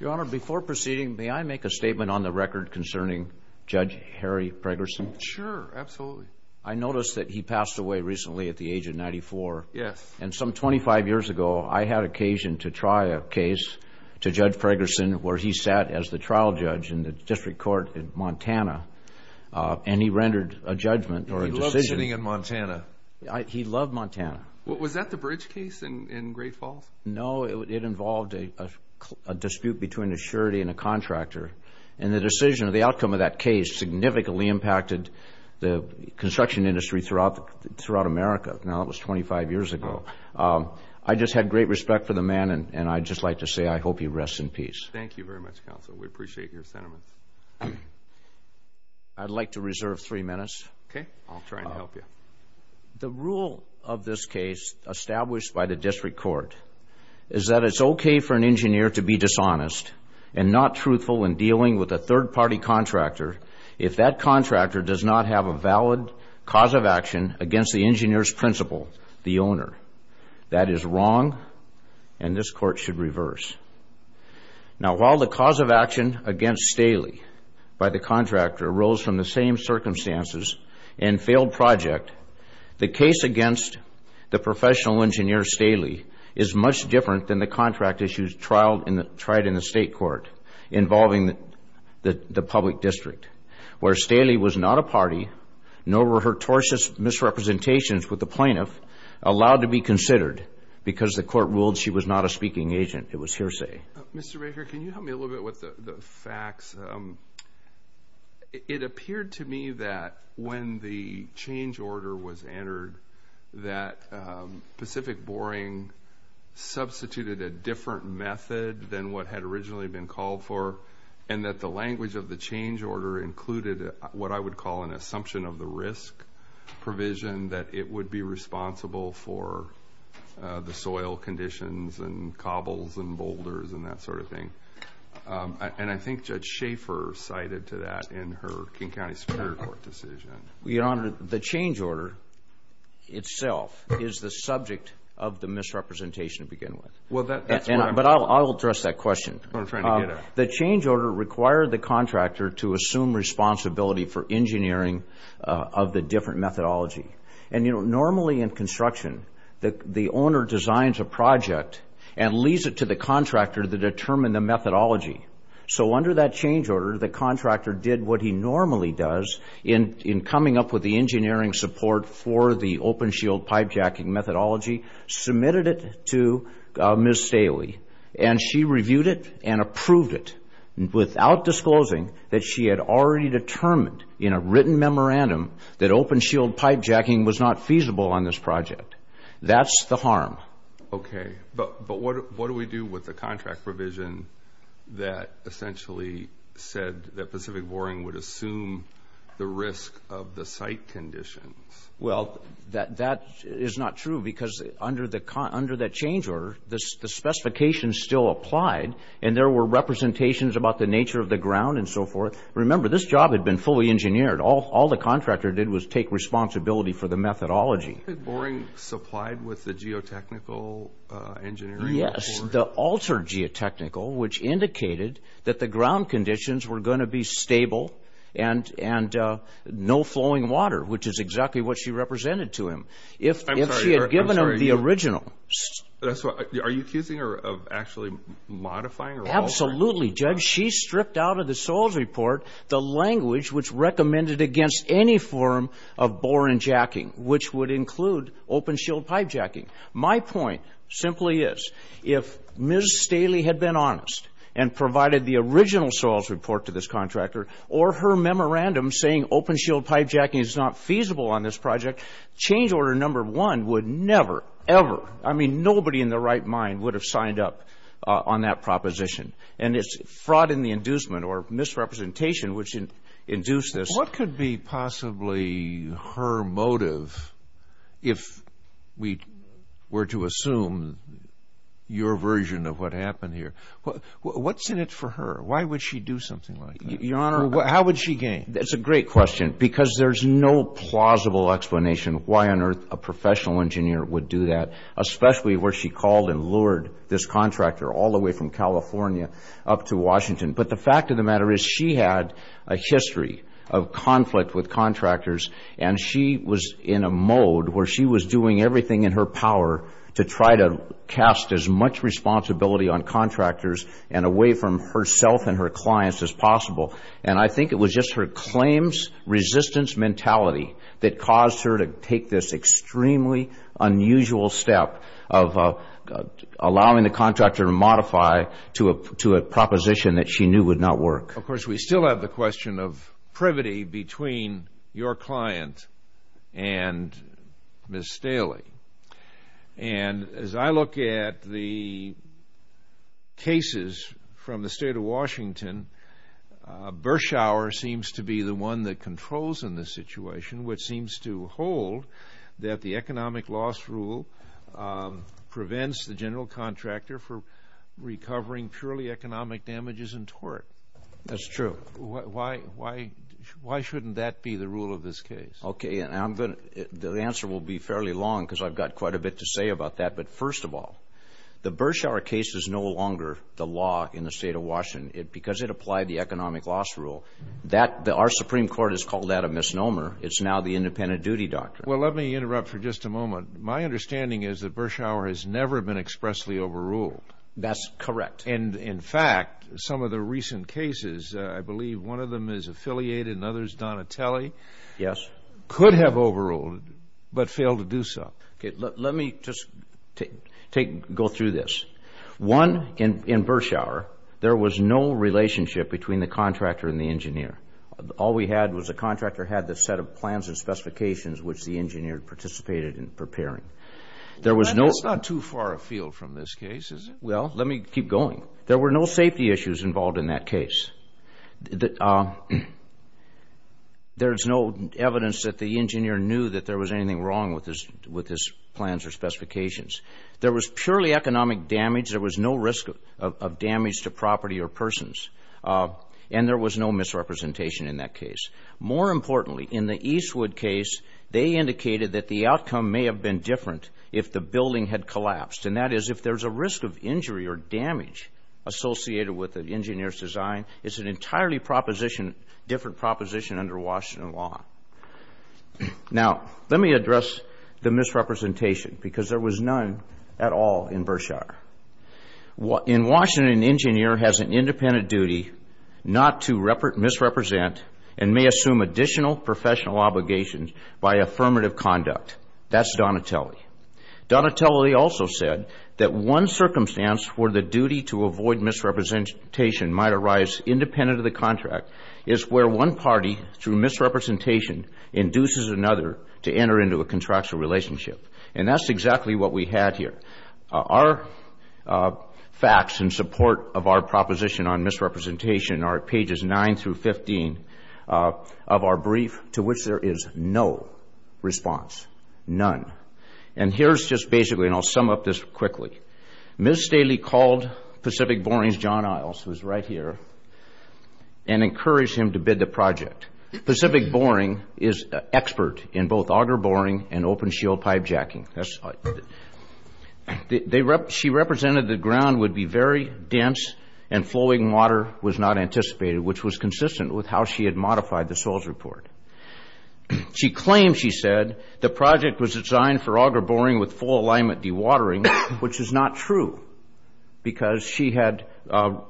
Your Honor, before proceeding, may I make a statement on the record concerning Judge Harry Fregerson? Sure, absolutely. I noticed that he passed away recently at the age of ninety-four. Yes. And some twenty-five years ago I had occasion to try a case to Judge Fregerson where he sat as the trial judge in the District Court in Montana and he rendered a judgment or a decision. He loved sitting in Montana. He loved Montana. Was that the Bridge case in Great Falls? No, it involved a dispute between a surety and a contractor. And the decision or the outcome of that case significantly impacted the construction industry throughout America. Now, that was twenty-five years ago. I just had great respect for the man and I'd just like to say I hope he rests in peace. Thank you very much, Counsel. We appreciate your sentiments. I'd like to reserve three minutes. Okay. I'll try and help you. The rule of this case established by the District Court is that it's okay for an engineer to be dishonest and not truthful in dealing with a third-party contractor if that contractor does not have a valid cause of action against the engineer's principal, the owner. That is wrong and this Court should reverse. Now, while the cause of action against Staley by the contractor arose from the same circumstances and failed project, the case against the professional engineer Staley is much different than the contract issues tried in the State Court involving the public district where Staley was not a party nor were her tortious misrepresentations with the plaintiff allowed to be considered because the Court ruled she was not a speaking agent. It was hearsay. Mr. Baker, can you help me a little bit with the facts? It appeared to me that when the change order was entered that Pacific Boring substituted a different method than what had originally been called for and that the language of the change order included what I would call an assumption of the risk provision that it would be responsible for the soil conditions and cobbles and boulders and that sort of thing. And I think Judge Schaefer cited to that in her King County Superior Court decision. Your Honor, the change order itself is the subject of the misrepresentation to begin with. But I'll address that question. The change order required the contractor to assume responsibility for engineering of the different methodology. And, you know, normally in construction, the owner designs a project and leaves it to the contractor to determine the methodology. So under that change order, the contractor did what he normally does in coming up with the engineering support for the open shield pipe jacking methodology, submitted it to Ms. Staley, and she reviewed it and approved it without disclosing that she had already determined in a written memorandum that open shield pipe jacking was not feasible on this project. That's the harm. Okay. But what do we do with the contract provision that essentially said that Pacific Boring would assume the risk of the site conditions? Well, that is not true because under that change order, the specifications still applied and there were representations about the nature of the ground and so forth. Remember, this job had been fully engineered. All the contractor did was take responsibility for the methodology. Was Pacific Boring supplied with the geotechnical engineering? Yes, the altered geotechnical, which indicated that the ground conditions were going to be stable and no flowing water, which is exactly what she represented to him. I'm sorry. If she had given him the original. Are you accusing her of actually modifying or altering? Absolutely, Judge. But she stripped out of the soils report the language which recommended against any form of boring jacking, which would include open shield pipe jacking. My point simply is, if Ms. Staley had been honest and provided the original soils report to this contractor or her memorandum saying open shield pipe jacking is not feasible on this project, change order number one would never ever, I mean, nobody in their right mind would have signed up on that proposition. And it's fraud in the inducement or misrepresentation which induced this. What could be possibly her motive if we were to assume your version of what happened here? What's in it for her? Why would she do something like that? Your Honor, how would she gain? That's a great question because there's no plausible explanation why on earth a professional engineer would do that, especially where she called and lured this contractor all the way from California up to Washington. But the fact of the matter is she had a history of conflict with contractors and she was in a mode where she was doing everything in her power to try to cast as much responsibility on contractors and away from herself and her clients as possible. And I think it was just her claims resistance mentality that caused her to take this extremely unusual step of allowing the contractor to modify to a proposition that she knew would not work. Of course, we still have the question of privity between your client and Ms. Staley. And as I look at the cases from the State of Washington, Burschauer seems to be the one that controls in this situation, which seems to hold that the economic loss rule prevents the general contractor from recovering purely economic damages in tort. That's true. Why shouldn't that be the rule of this case? Okay. The answer will be fairly long because I've got quite a bit to say about that. But first of all, the Burschauer case is no longer the law in the State of Washington because it applied the economic loss rule. Our Supreme Court has called that a misnomer. It's now the independent duty doctrine. Well, let me interrupt for just a moment. My understanding is that Burschauer has never been expressly overruled. That's correct. And, in fact, some of the recent cases, I believe one of them is affiliated and the other is Donatelli, could have overruled but failed to do so. Okay. Let me just go through this. One, in Burschauer, there was no relationship between the contractor and the engineer. All we had was the contractor had the set of plans and specifications which the engineer participated in preparing. That's not too far afield from this case, is it? Well, let me keep going. There were no safety issues involved in that case. There's no evidence that the engineer knew that there was anything wrong with his plans or specifications. There was purely economic damage. There was no risk of damage to property or persons, and there was no misrepresentation in that case. More importantly, in the Eastwood case, they indicated that the outcome may have been different if the building had collapsed, and that is if there's a risk of injury or damage associated with an engineer's design, it's an entirely proposition, different proposition under Washington law. Now, let me address the misrepresentation because there was none at all in Burschauer. In Washington, an engineer has an independent duty not to misrepresent and may assume additional professional obligations by affirmative conduct. That's Donatelli. Donatelli also said that one circumstance where the duty to avoid misrepresentation might arise independent of the contract is where one party, through misrepresentation, induces another to enter into a contractual relationship, and that's exactly what we had here. Our facts in support of our proposition on misrepresentation are at pages 9 through 15 of our brief, to which there is no response, none. And here's just basically, and I'll sum up this quickly. Ms. Staley called Pacific Boring's John Isles, who's right here, and encouraged him to bid the project. Pacific Boring is an expert in both auger boring and open-shield pipe jacking. She represented the ground would be very dense and flowing water was not anticipated, which was consistent with how she had modified the soils report. She claimed, she said, the project was designed for auger boring with full alignment dewatering, which is not true because she had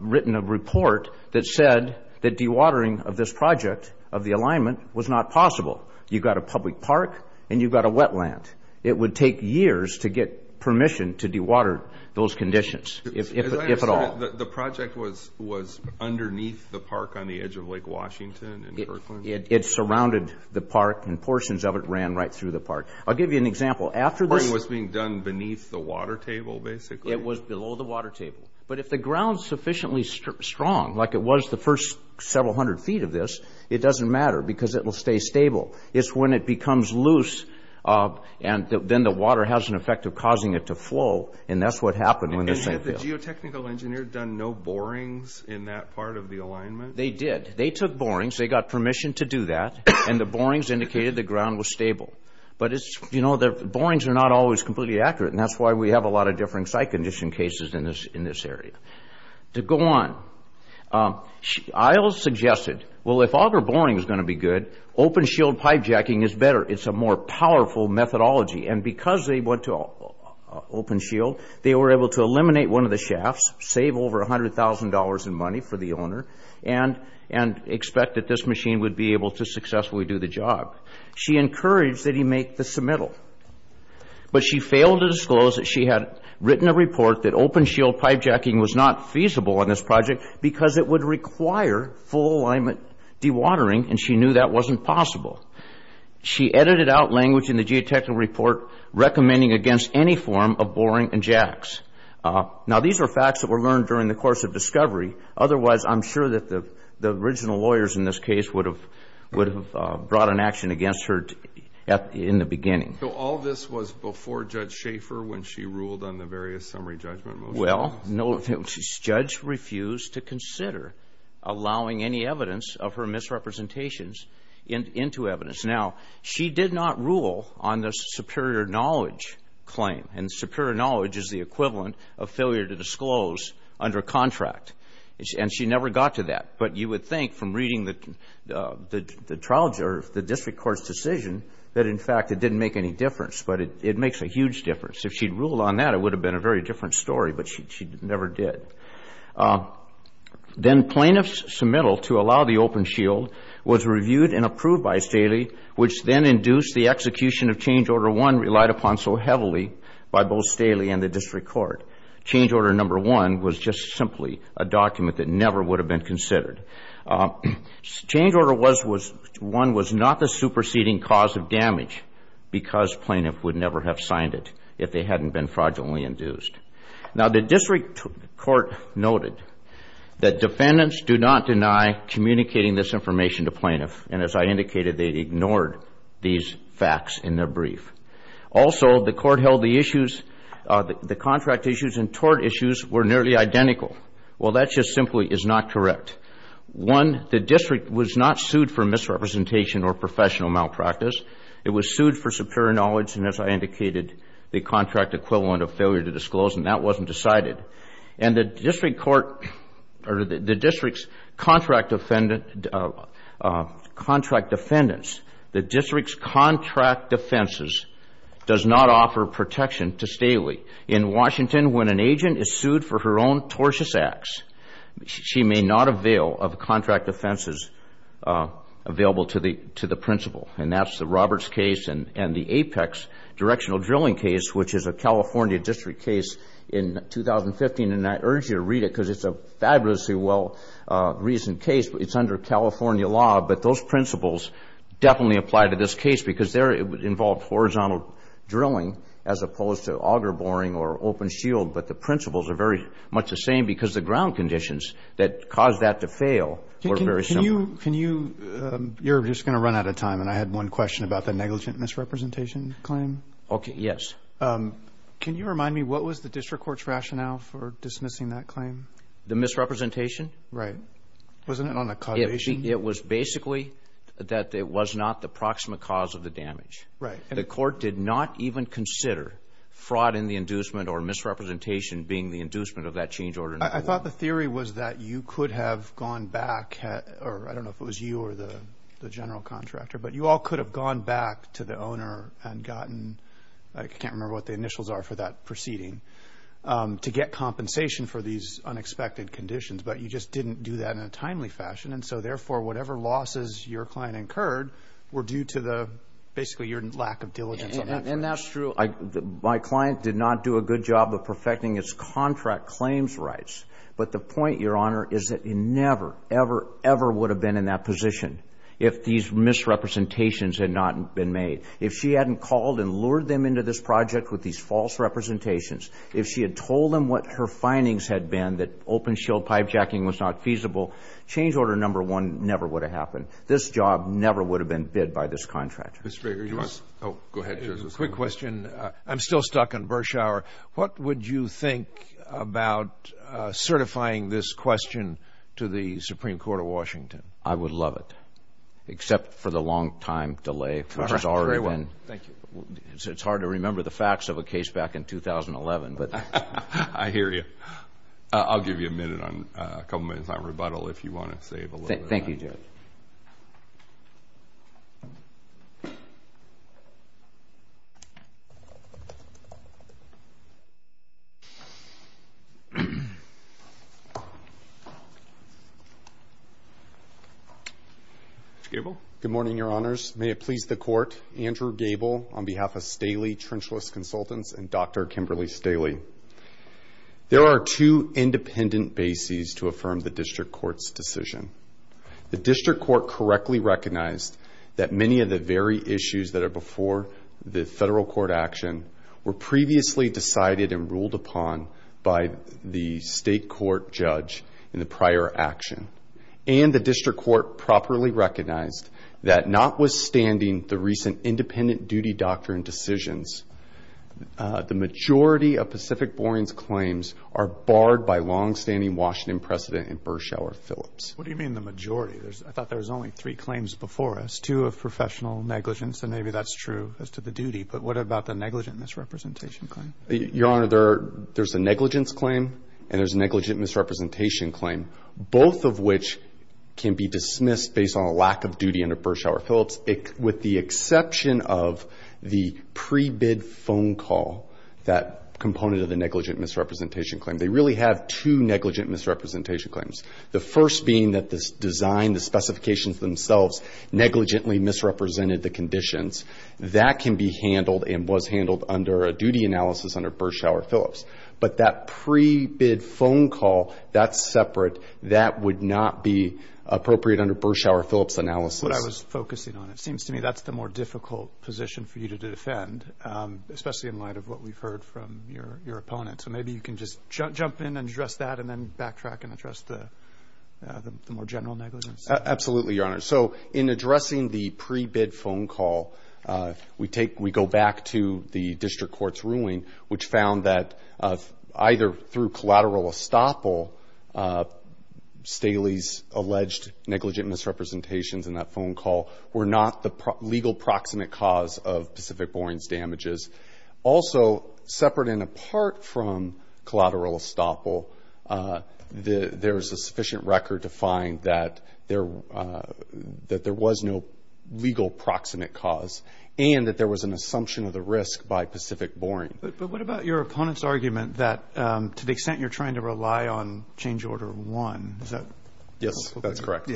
written a report that said that dewatering of this project, of the alignment, was not possible. You've got a public park and you've got a wetland. It would take years to get permission to dewater those conditions, if at all. The project was underneath the park on the edge of Lake Washington in Kirkland? It surrounded the park and portions of it ran right through the park. I'll give you an example. The boring was being done beneath the water table, basically? It was below the water table. But if the ground is sufficiently strong, like it was the first several hundred feet of this, it doesn't matter because it will stay stable. It's when it becomes loose and then the water has an effect of causing it to flow, and that's what happened when this thing fell. Had the geotechnical engineer done no borings in that part of the alignment? They did. They took borings. They got permission to do that, and the borings indicated the ground was stable. But, you know, the borings are not always completely accurate, and that's why we have a lot of different site condition cases in this area. To go on, Isles suggested, well, if auger boring is going to be good, open shield pipe jacking is better. It's a more powerful methodology. And because they went to open shield, they were able to eliminate one of the shafts, save over $100,000 in money for the owner, and expect that this machine would be able to successfully do the job. She encouraged that he make the submittal, but she failed to disclose that she had written a report that open shield pipe jacking was not feasible on this project because it would require full alignment dewatering, and she knew that wasn't possible. She edited out language in the geotechnical report recommending against any form of boring and jacks. Now, these are facts that were learned during the course of discovery. Otherwise, I'm sure that the original lawyers in this case would have brought an action against her in the beginning. So all this was before Judge Schaefer when she ruled on the various summary judgment motions? Well, Judge refused to consider allowing any evidence of her misrepresentations into evidence. Now, she did not rule on the superior knowledge claim, and superior knowledge is the equivalent of failure to disclose under contract, and she never got to that. But you would think from reading the trial judge or the district court's decision that, in fact, it didn't make any difference, but it makes a huge difference. If she'd ruled on that, it would have been a very different story, but she never did. Then plaintiff's submittal to allow the open shield was reviewed and approved by Staley, which then induced the execution of change order one relied upon so heavily by both Staley and the district court. Change order number one was just simply a document that never would have been considered. Change order one was not the superseding cause of damage because plaintiff would never have signed it if they hadn't been fraudulently induced. Now, the district court noted that defendants do not deny communicating this information to plaintiff, and as I indicated, they ignored these facts in their brief. Also, the court held the issues, the contract issues and tort issues were nearly identical. Well, that just simply is not correct. One, the district was not sued for misrepresentation or professional malpractice. It was sued for superior knowledge, and as I indicated, the contract equivalent of failure to disclose, and that wasn't decided. And the district's contract defendants, the district's contract defenses does not offer protection to Staley. In Washington, when an agent is sued for her own tortious acts, she may not avail of contract defenses available to the principal, and that's the Roberts case and the Apex directional drilling case, which is a California district case in 2015, and I urge you to read it because it's a fabulously well-reasoned case. It's under California law, but those principles definitely apply to this case because they involve horizontal drilling as opposed to auger boring or open shield, but the principles are very much the same because the ground conditions that caused that to fail were very similar. Can you – you're just going to run out of time, and I had one question about the negligent misrepresentation claim. Okay, yes. Can you remind me, what was the district court's rationale for dismissing that claim? The misrepresentation? Right. Wasn't it on the cultivation? It was basically that it was not the proximate cause of the damage. Right. The court did not even consider fraud in the inducement or misrepresentation being the inducement of that change order. I thought the theory was that you could have gone back, or I don't know if it was you or the general contractor, but you all could have gone back to the owner and gotten – I can't remember what the initials are for that proceeding – to get compensation for these unexpected conditions, but you just didn't do that in a timely fashion, and so therefore whatever losses your client incurred were due to the – basically your lack of diligence on that. And that's true. My client did not do a good job of perfecting its contract claims rights, but the point, Your Honor, is that he never, ever, ever would have been in that position if these misrepresentations had not been made. If she hadn't called and lured them into this project with these false representations, if she had told them what her findings had been, that open-shield pipejacking was not feasible, change order number one never would have happened. This job never would have been bid by this contractor. Mr. Baker, you want to – Oh, go ahead, Justice. Quick question. I'm still stuck on Burschauer. What would you think about certifying this question to the Supreme Court of Washington? I would love it, except for the long time delay, which has already been – Very well. Thank you. It's hard to remember the facts of a case back in 2011, but – I hear you. I'll give you a minute on – a couple minutes on rebuttal if you want to save a little bit of time. Thank you, Judge. Mr. Gable. Good morning, Your Honors. May it please the Court, Andrew Gable on behalf of Staley Trenchless Consultants and Dr. Kimberly Staley. There are two independent bases to affirm the district court's decision. The district court correctly recognized that many of the very issues that are before the federal court action were previously decided and ruled upon by the state court judge in the prior action, and the district court properly recognized that notwithstanding the recent independent duty doctrine decisions, the majority of Pacific Boreings' claims are barred by longstanding Washington precedent in Burschauer-Phillips. What do you mean the majority? I thought there was only three claims before us, two of professional negligence, and maybe that's true as to the duty, but what about the negligent misrepresentation claim? Your Honor, there's a negligence claim and there's a negligent misrepresentation claim. Both of which can be dismissed based on a lack of duty under Burschauer-Phillips, with the exception of the pre-bid phone call, that component of the negligent misrepresentation claim. They really have two negligent misrepresentation claims, the first being that this design, the specifications themselves, negligently misrepresented the conditions. That can be handled and was handled under a duty analysis under Burschauer-Phillips, but that pre-bid phone call, that's separate, that would not be appropriate under Burschauer-Phillips analysis. What I was focusing on, it seems to me that's the more difficult position for you to defend, especially in light of what we've heard from your opponent. So maybe you can just jump in and address that and then backtrack and address the more general negligence. Absolutely, Your Honor. So in addressing the pre-bid phone call, we go back to the district court's ruling, which found that either through collateral estoppel, Staley's alleged negligent misrepresentations in that phone call were not the legal proximate cause of Pacific Boring's damages. Also, separate and apart from collateral estoppel, there's a sufficient record to find that there was no legal proximate cause and that there was an assumption of the risk by Pacific Boring. But what about your opponent's argument that to the extent you're trying to rely on change order one, is that? Yes, that's correct.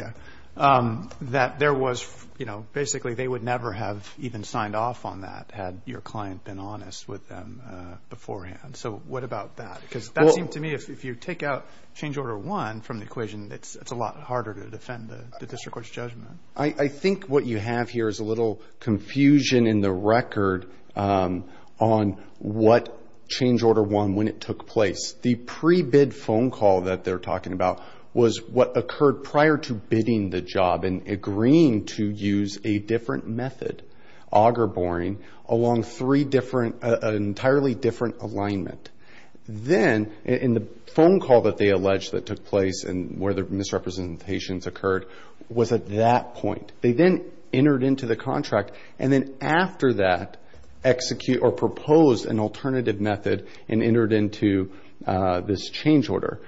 That there was, you know, basically they would never have even signed off on that had your client been honest with them beforehand. So what about that? Because that seemed to me if you take out change order one from the equation, it's a lot harder to defend the district court's judgment. I think what you have here is a little confusion in the record on what change order one, when it took place. The pre-bid phone call that they're talking about was what occurred prior to bidding the job and agreeing to use a different method, auger boring, along three different, an entirely different alignment. Then in the phone call that they alleged that took place and where the misrepresentations occurred was at that point. They then entered into the contract, and then after that, execute or propose an alternative method and entered into this change order.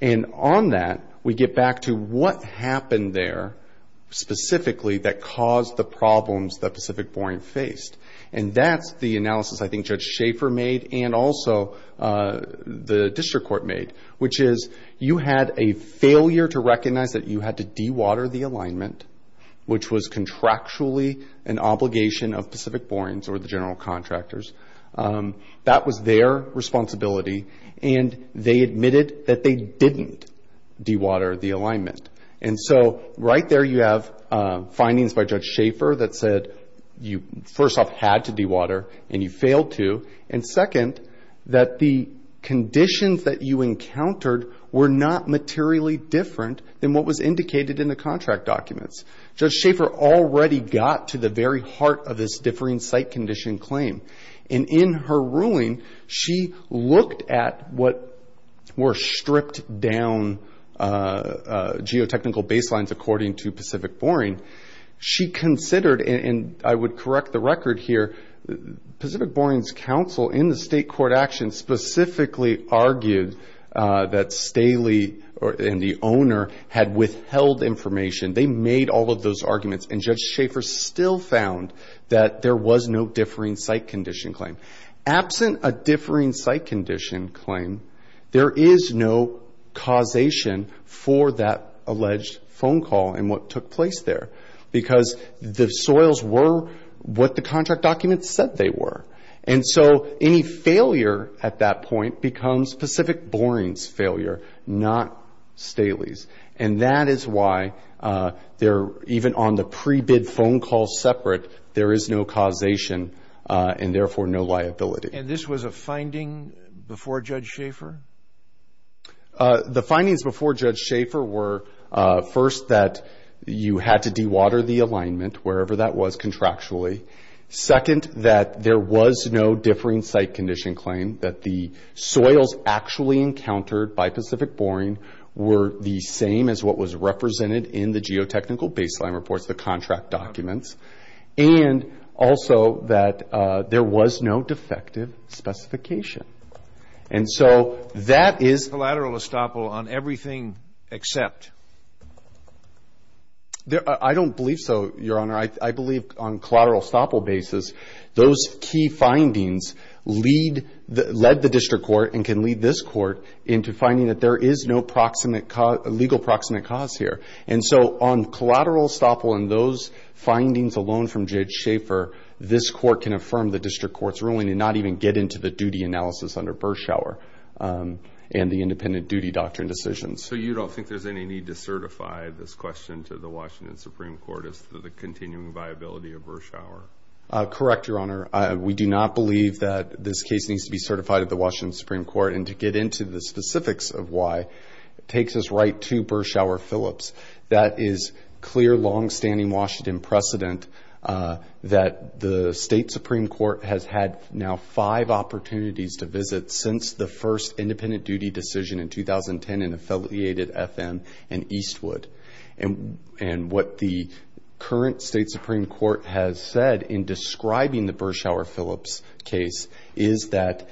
And on that, we get back to what happened there specifically that caused the problems that Pacific Boring faced. And that's the analysis I think Judge Schaefer made and also the district court made, which is you had a failure to recognize that you had to dewater the alignment, which was contractually an obligation of Pacific Boring or the general contractors. That was their responsibility, and they admitted that they didn't dewater the alignment. And so right there you have findings by Judge Schaefer that said you, first off, had to dewater and you failed to. And second, that the conditions that you encountered were not materially different than what was indicated in the contract documents. Judge Schaefer already got to the very heart of this differing site condition claim. And in her ruling, she looked at what were stripped down geotechnical baselines according to Pacific Boring. She considered, and I would correct the record here, Pacific Boring's counsel in the state court action specifically argued that Staley and the owner had withheld information. They made all of those arguments, and Judge Schaefer still found that there was no differing site condition claim. Absent a differing site condition claim, there is no causation for that alleged phone call and what took place there because the soils were what the contract documents said they were. And so any failure at that point becomes Pacific Boring's failure, not Staley's. And that is why even on the pre-bid phone call separate, there is no causation and therefore no liability. And this was a finding before Judge Schaefer? The findings before Judge Schaefer were, first, that you had to dewater the alignment wherever that was contractually. Second, that there was no differing site condition claim, that the soils actually encountered by Pacific Boring were the same as what was represented in the geotechnical baseline reports, the contract documents. And also that there was no defective specification. And so that is Collateral estoppel on everything except? I don't believe so, Your Honor. I believe on collateral estoppel basis, those key findings lead the district court and can lead this court into finding that there is no legal proximate cause here. And so on collateral estoppel and those findings alone from Judge Schaefer, this court can affirm the district court's ruling and not even get into the duty analysis under Birschauer and the independent duty doctrine decisions. So you don't think there's any need to certify this question to the Washington Supreme Court as to the continuing viability of Birschauer? Correct, Your Honor. We do not believe that this case needs to be certified at the Washington Supreme Court. And to get into the specifics of why, it takes us right to Birschauer-Phillips. That is clear longstanding Washington precedent that the state Supreme Court has had now five opportunities to visit since the first independent duty decision in 2010 in affiliated FM and Eastwood. And what the current state Supreme Court has said in describing the Birschauer-Phillips case is that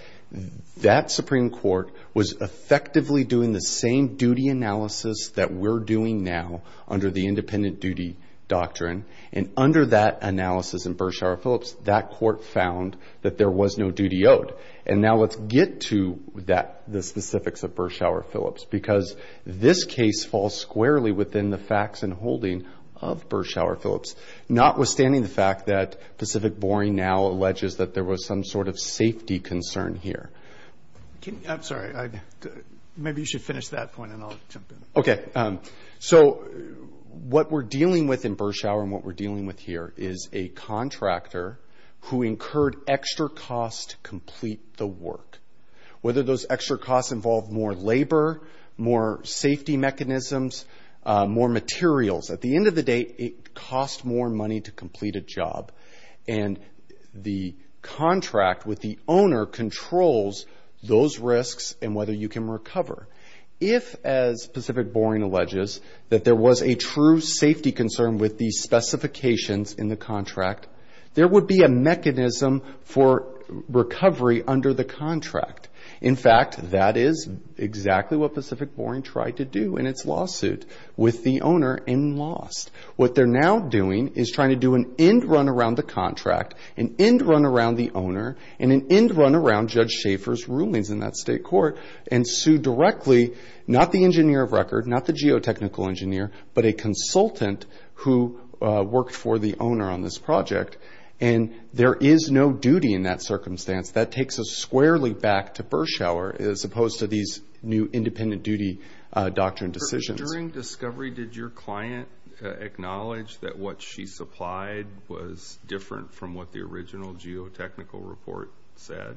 that Supreme Court was effectively doing the same duty analysis that we're doing now under the independent duty doctrine. And under that analysis in Birschauer-Phillips, that court found that there was no duty owed. And now let's get to the specifics of Birschauer-Phillips because this case falls squarely within the facts and holding of Birschauer-Phillips, notwithstanding the fact that Pacific Boring now alleges that there was some sort of safety concern here. I'm sorry. Maybe you should finish that point and I'll jump in. Okay. So what we're dealing with in Birschauer and what we're dealing with here is a contractor who incurred extra costs to complete the work. Whether those extra costs involved more labor, more safety mechanisms, more materials, and the contract with the owner controls those risks and whether you can recover. If, as Pacific Boring alleges, that there was a true safety concern with these specifications in the contract, there would be a mechanism for recovery under the contract. In fact, that is exactly what Pacific Boring tried to do in its lawsuit with the owner and lost. What they're now doing is trying to do an end run around the contract, an end run around the owner, and an end run around Judge Schaefer's rulings in that state court and sue directly not the engineer of record, not the geotechnical engineer, but a consultant who worked for the owner on this project. And there is no duty in that circumstance. That takes us squarely back to Birschauer as opposed to these new independent duty doctrine decisions. During discovery, did your client acknowledge that what she supplied was different from what the original geotechnical report said?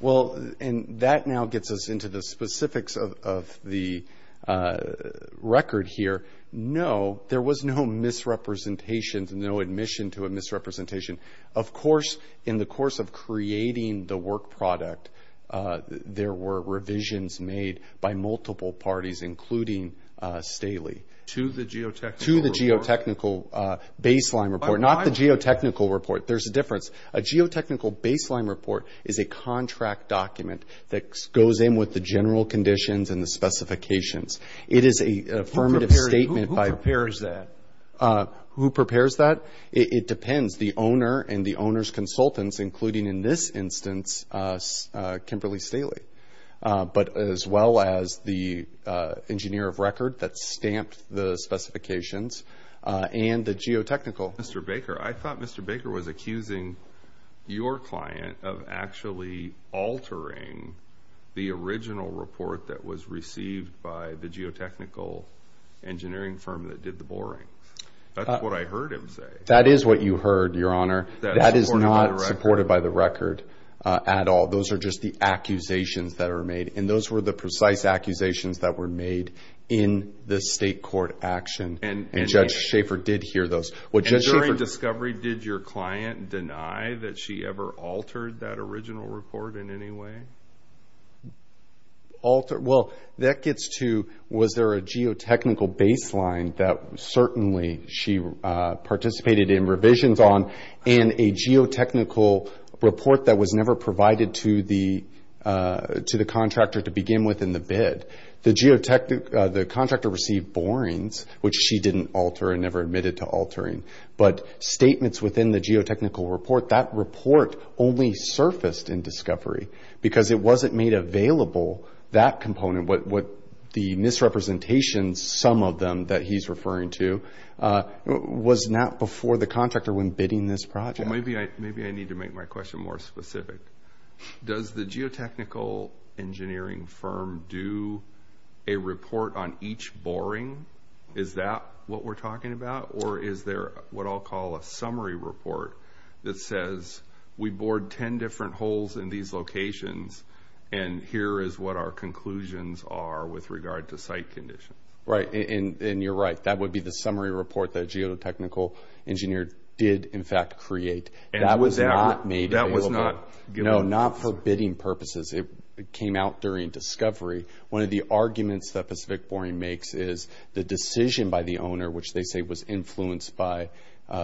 Well, and that now gets us into the specifics of the record here. No, there was no misrepresentations, no admission to a misrepresentation. Of course, in the course of creating the work product, there were revisions made by multiple parties, including Staley. To the geotechnical report? To the geotechnical baseline report. Not the geotechnical report. There's a difference. A geotechnical baseline report is a contract document that goes in with the general conditions and the specifications. It is an affirmative statement. Who prepares that? Who prepares that? It depends. It depends the owner and the owner's consultants, including in this instance, Kimberly Staley, as well as the engineer of record that stamped the specifications and the geotechnical. Mr. Baker, I thought Mr. Baker was accusing your client of actually altering the original report that was received by the geotechnical engineering firm that did the boring. That's what I heard him say. That is what you heard, Your Honor. That is not supported by the record at all. Those are just the accusations that are made, and those were the precise accusations that were made in the state court action, and Judge Schaefer did hear those. During discovery, did your client deny that she ever altered that original report in any way? Well, that gets to was there a geotechnical baseline that certainly she participated in revisions on and a geotechnical report that was never provided to the contractor to begin with in the bid. The contractor received borings, which she didn't alter and never admitted to altering, but statements within the geotechnical report, that report only surfaced in discovery because it wasn't made available, that component, the misrepresentations, some of them that he's referring to, was not before the contractor when bidding this project. Maybe I need to make my question more specific. Does the geotechnical engineering firm do a report on each boring? Is that what we're talking about, or is there what I'll call a summary report that says, we bored 10 different holes in these locations, and here is what our conclusions are with regard to site conditions? Right, and you're right. That would be the summary report that a geotechnical engineer did, in fact, create. That was not made available. No, not for bidding purposes. It came out during discovery. One of the arguments that Pacific Boring makes is the decision by the owner, which they say was influenced by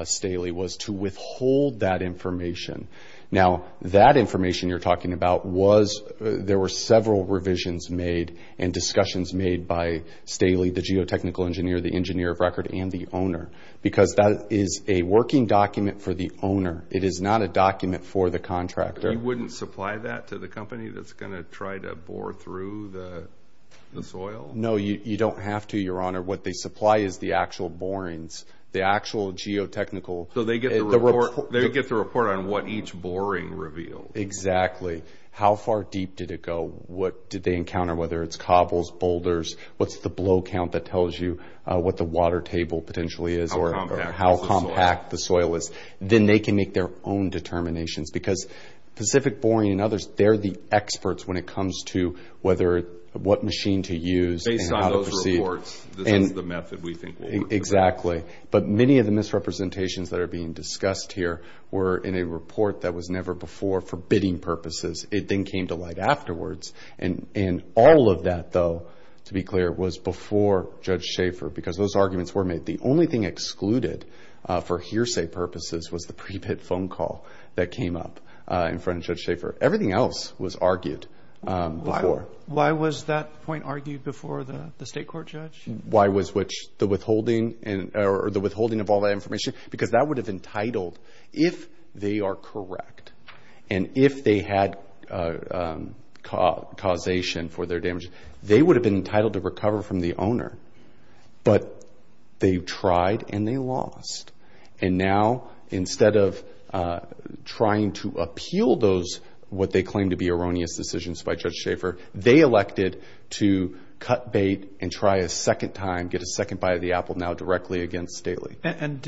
Staley, was to withhold that information. Now, that information you're talking about was, there were several revisions made and discussions made by Staley, the geotechnical engineer, the engineer of record, and the owner, because that is a working document for the owner. It is not a document for the contractor. You wouldn't supply that to the company that's going to try to bore through the soil? No, you don't have to, Your Honor. What they supply is the actual borings, the actual geotechnical. So they get the report on what each boring revealed? Exactly. How far deep did it go? What did they encounter, whether it's cobbles, boulders? What's the blow count that tells you what the water table potentially is or how compact the soil is? Then they can make their own determinations, because Pacific Boring and others, they're the experts when it comes to what machine to use and how to proceed. Based on those reports, this is the method we think will work the best. Exactly. But many of the misrepresentations that are being discussed here were in a report that was never before for bidding purposes. It then came to light afterwards. And all of that, though, to be clear, was before Judge Schaefer, because those arguments were made. The only thing excluded for hearsay purposes was the prepaid phone call that came up in front of Judge Schaefer. Everything else was argued before. Why was that point argued before the State Court, Judge? Why was the withholding of all that information? Because that would have entitled, if they are correct and if they had causation for their damage, they would have been entitled to recover from the owner. But they tried and they lost. And now, instead of trying to appeal those, what they claim to be erroneous decisions by Judge Schaefer, they elected to cut bait and try a second time, get a second bite of the apple now directly against Staley. And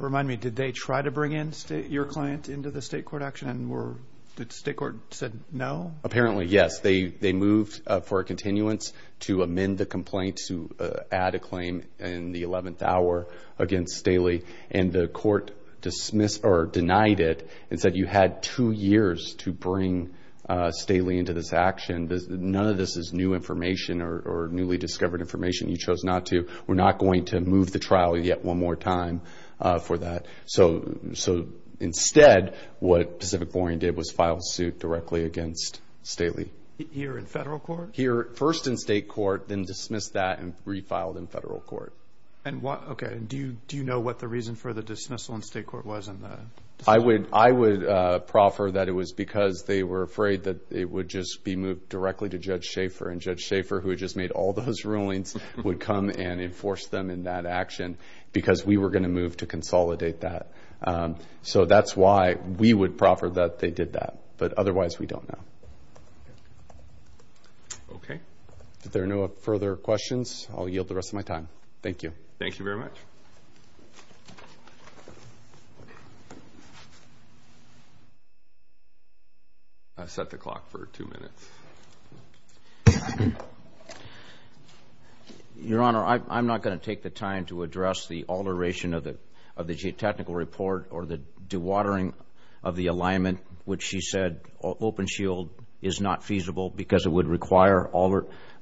remind me, did they try to bring your client into the State Court action? Did the State Court say no? Apparently, yes. They moved for a continuance to amend the complaint to add a claim in the 11th hour against Staley. And the court denied it and said, you had two years to bring Staley into this action. None of this is new information or newly discovered information. You chose not to. We're not going to move the trial yet one more time for that. So instead, what Pacific Boring did was file suit directly against Staley. Here in federal court? Here first in state court, then dismissed that and refiled in federal court. Okay. And do you know what the reason for the dismissal in state court was? I would proffer that it was because they were afraid that it would just be moved directly to Judge Schaefer. And Judge Schaefer, who had just made all those rulings, would come and enforce them in that action because we were going to move to consolidate that. So that's why we would proffer that they did that. But otherwise, we don't know. Okay. If there are no further questions, I'll yield the rest of my time. Thank you. Okay. Thank you very much. I've set the clock for two minutes. Your Honor, I'm not going to take the time to address the alteration of the geotechnical report or the dewatering of the alignment, which she said open shield is not feasible because it would require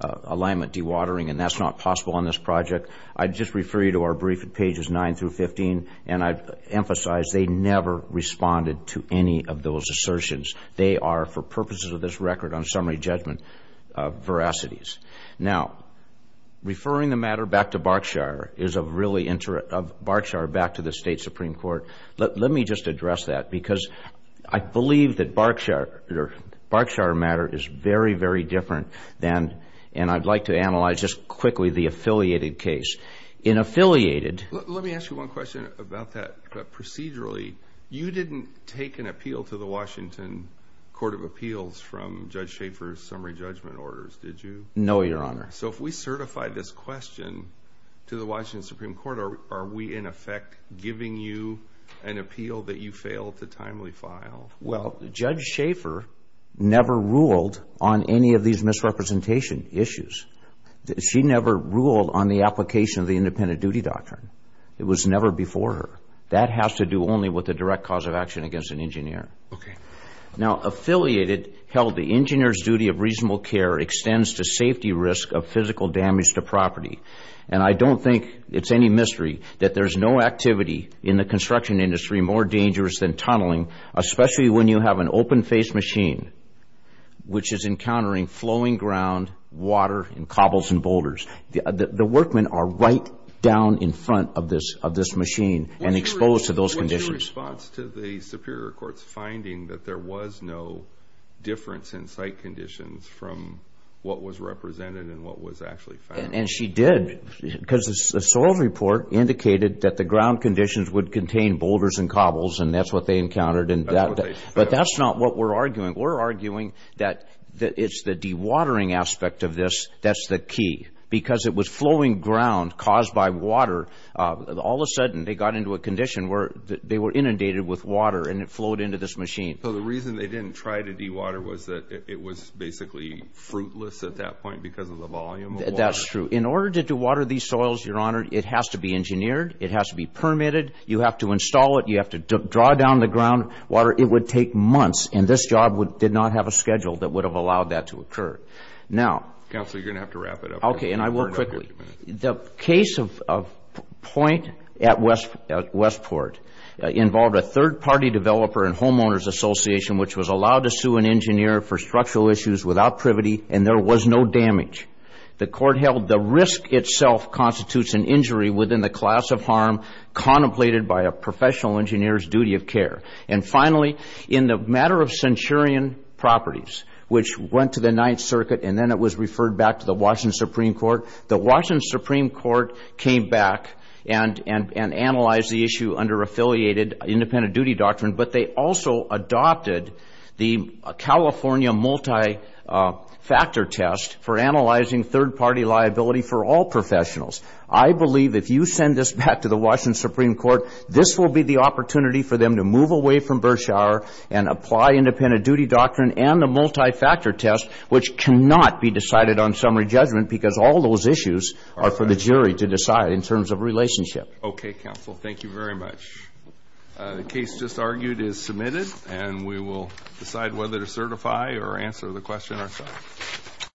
alignment dewatering, and that's not possible on this project. I'd just refer you to our brief at pages 9 through 15, and I'd emphasize they never responded to any of those assertions. They are, for purposes of this record on summary judgment, veracities. Now, referring the matter back to Barkshire, is of really interest of Barkshire back to the State Supreme Court. Let me just address that because I believe that Barkshire matter is very, very different than, and I'd like to analyze just quickly the affiliated case. In affiliated... Let me ask you one question about that. Procedurally, you didn't take an appeal to the Washington Court of Appeals from Judge Schaefer's summary judgment orders, did you? No, Your Honor. So if we certify this question to the Washington Supreme Court, are we in effect giving you an appeal that you failed to timely file? Well, Judge Schaefer never ruled on any of these misrepresentation issues. She never ruled on the application of the independent duty doctrine. It was never before her. That has to do only with the direct cause of action against an engineer. Okay. Now, affiliated held the engineer's duty of reasonable care extends to safety risk of physical damage to property, and I don't think it's any mystery that there's no activity in the construction industry more dangerous than tunneling, especially when you have an open-faced machine, which is encountering flowing ground, water, and cobbles and boulders. The workmen are right down in front of this machine and exposed to those conditions. What's your response to the Superior Court's finding that there was no difference in site conditions from what was represented and what was actually found? And she did, because the soils report indicated that the ground conditions would contain boulders and cobbles, and that's what they encountered. But that's not what we're arguing. We're arguing that it's the dewatering aspect of this that's the key, because it was flowing ground caused by water. All of a sudden, they got into a condition where they were inundated with water, and it flowed into this machine. So the reason they didn't try to dewater was that it was basically fruitless at that point because of the volume of water? That's true. In order to dewater these soils, Your Honor, it has to be engineered. It has to be permitted. You have to install it. You have to draw down the groundwater. It would take months, and this job did not have a schedule that would have allowed that to occur. Now – Counsel, you're going to have to wrap it up. Okay, and I will quickly. The case of Point at Westport involved a third-party developer and homeowners association which was allowed to sue an engineer for structural issues without privity, and there was no damage. The court held the risk itself constitutes an injury within the class of harm contemplated by a professional engineer's duty of care. And finally, in the matter of centurion properties, which went to the Ninth Circuit, and then it was referred back to the Washington Supreme Court, the Washington Supreme Court came back and analyzed the issue under affiliated independent duty doctrine, but they also adopted the California multi-factor test for analyzing third-party liability for all professionals. I believe if you send this back to the Washington Supreme Court, this will be the opportunity for them to move away from Berkshire and apply independent duty doctrine and the multi-factor test, which cannot be decided on summary judgment because all those issues are for the jury to decide in terms of relationship. Okay, counsel. Thank you very much. The case just argued is submitted, and we will decide whether to certify or answer the question ourselves.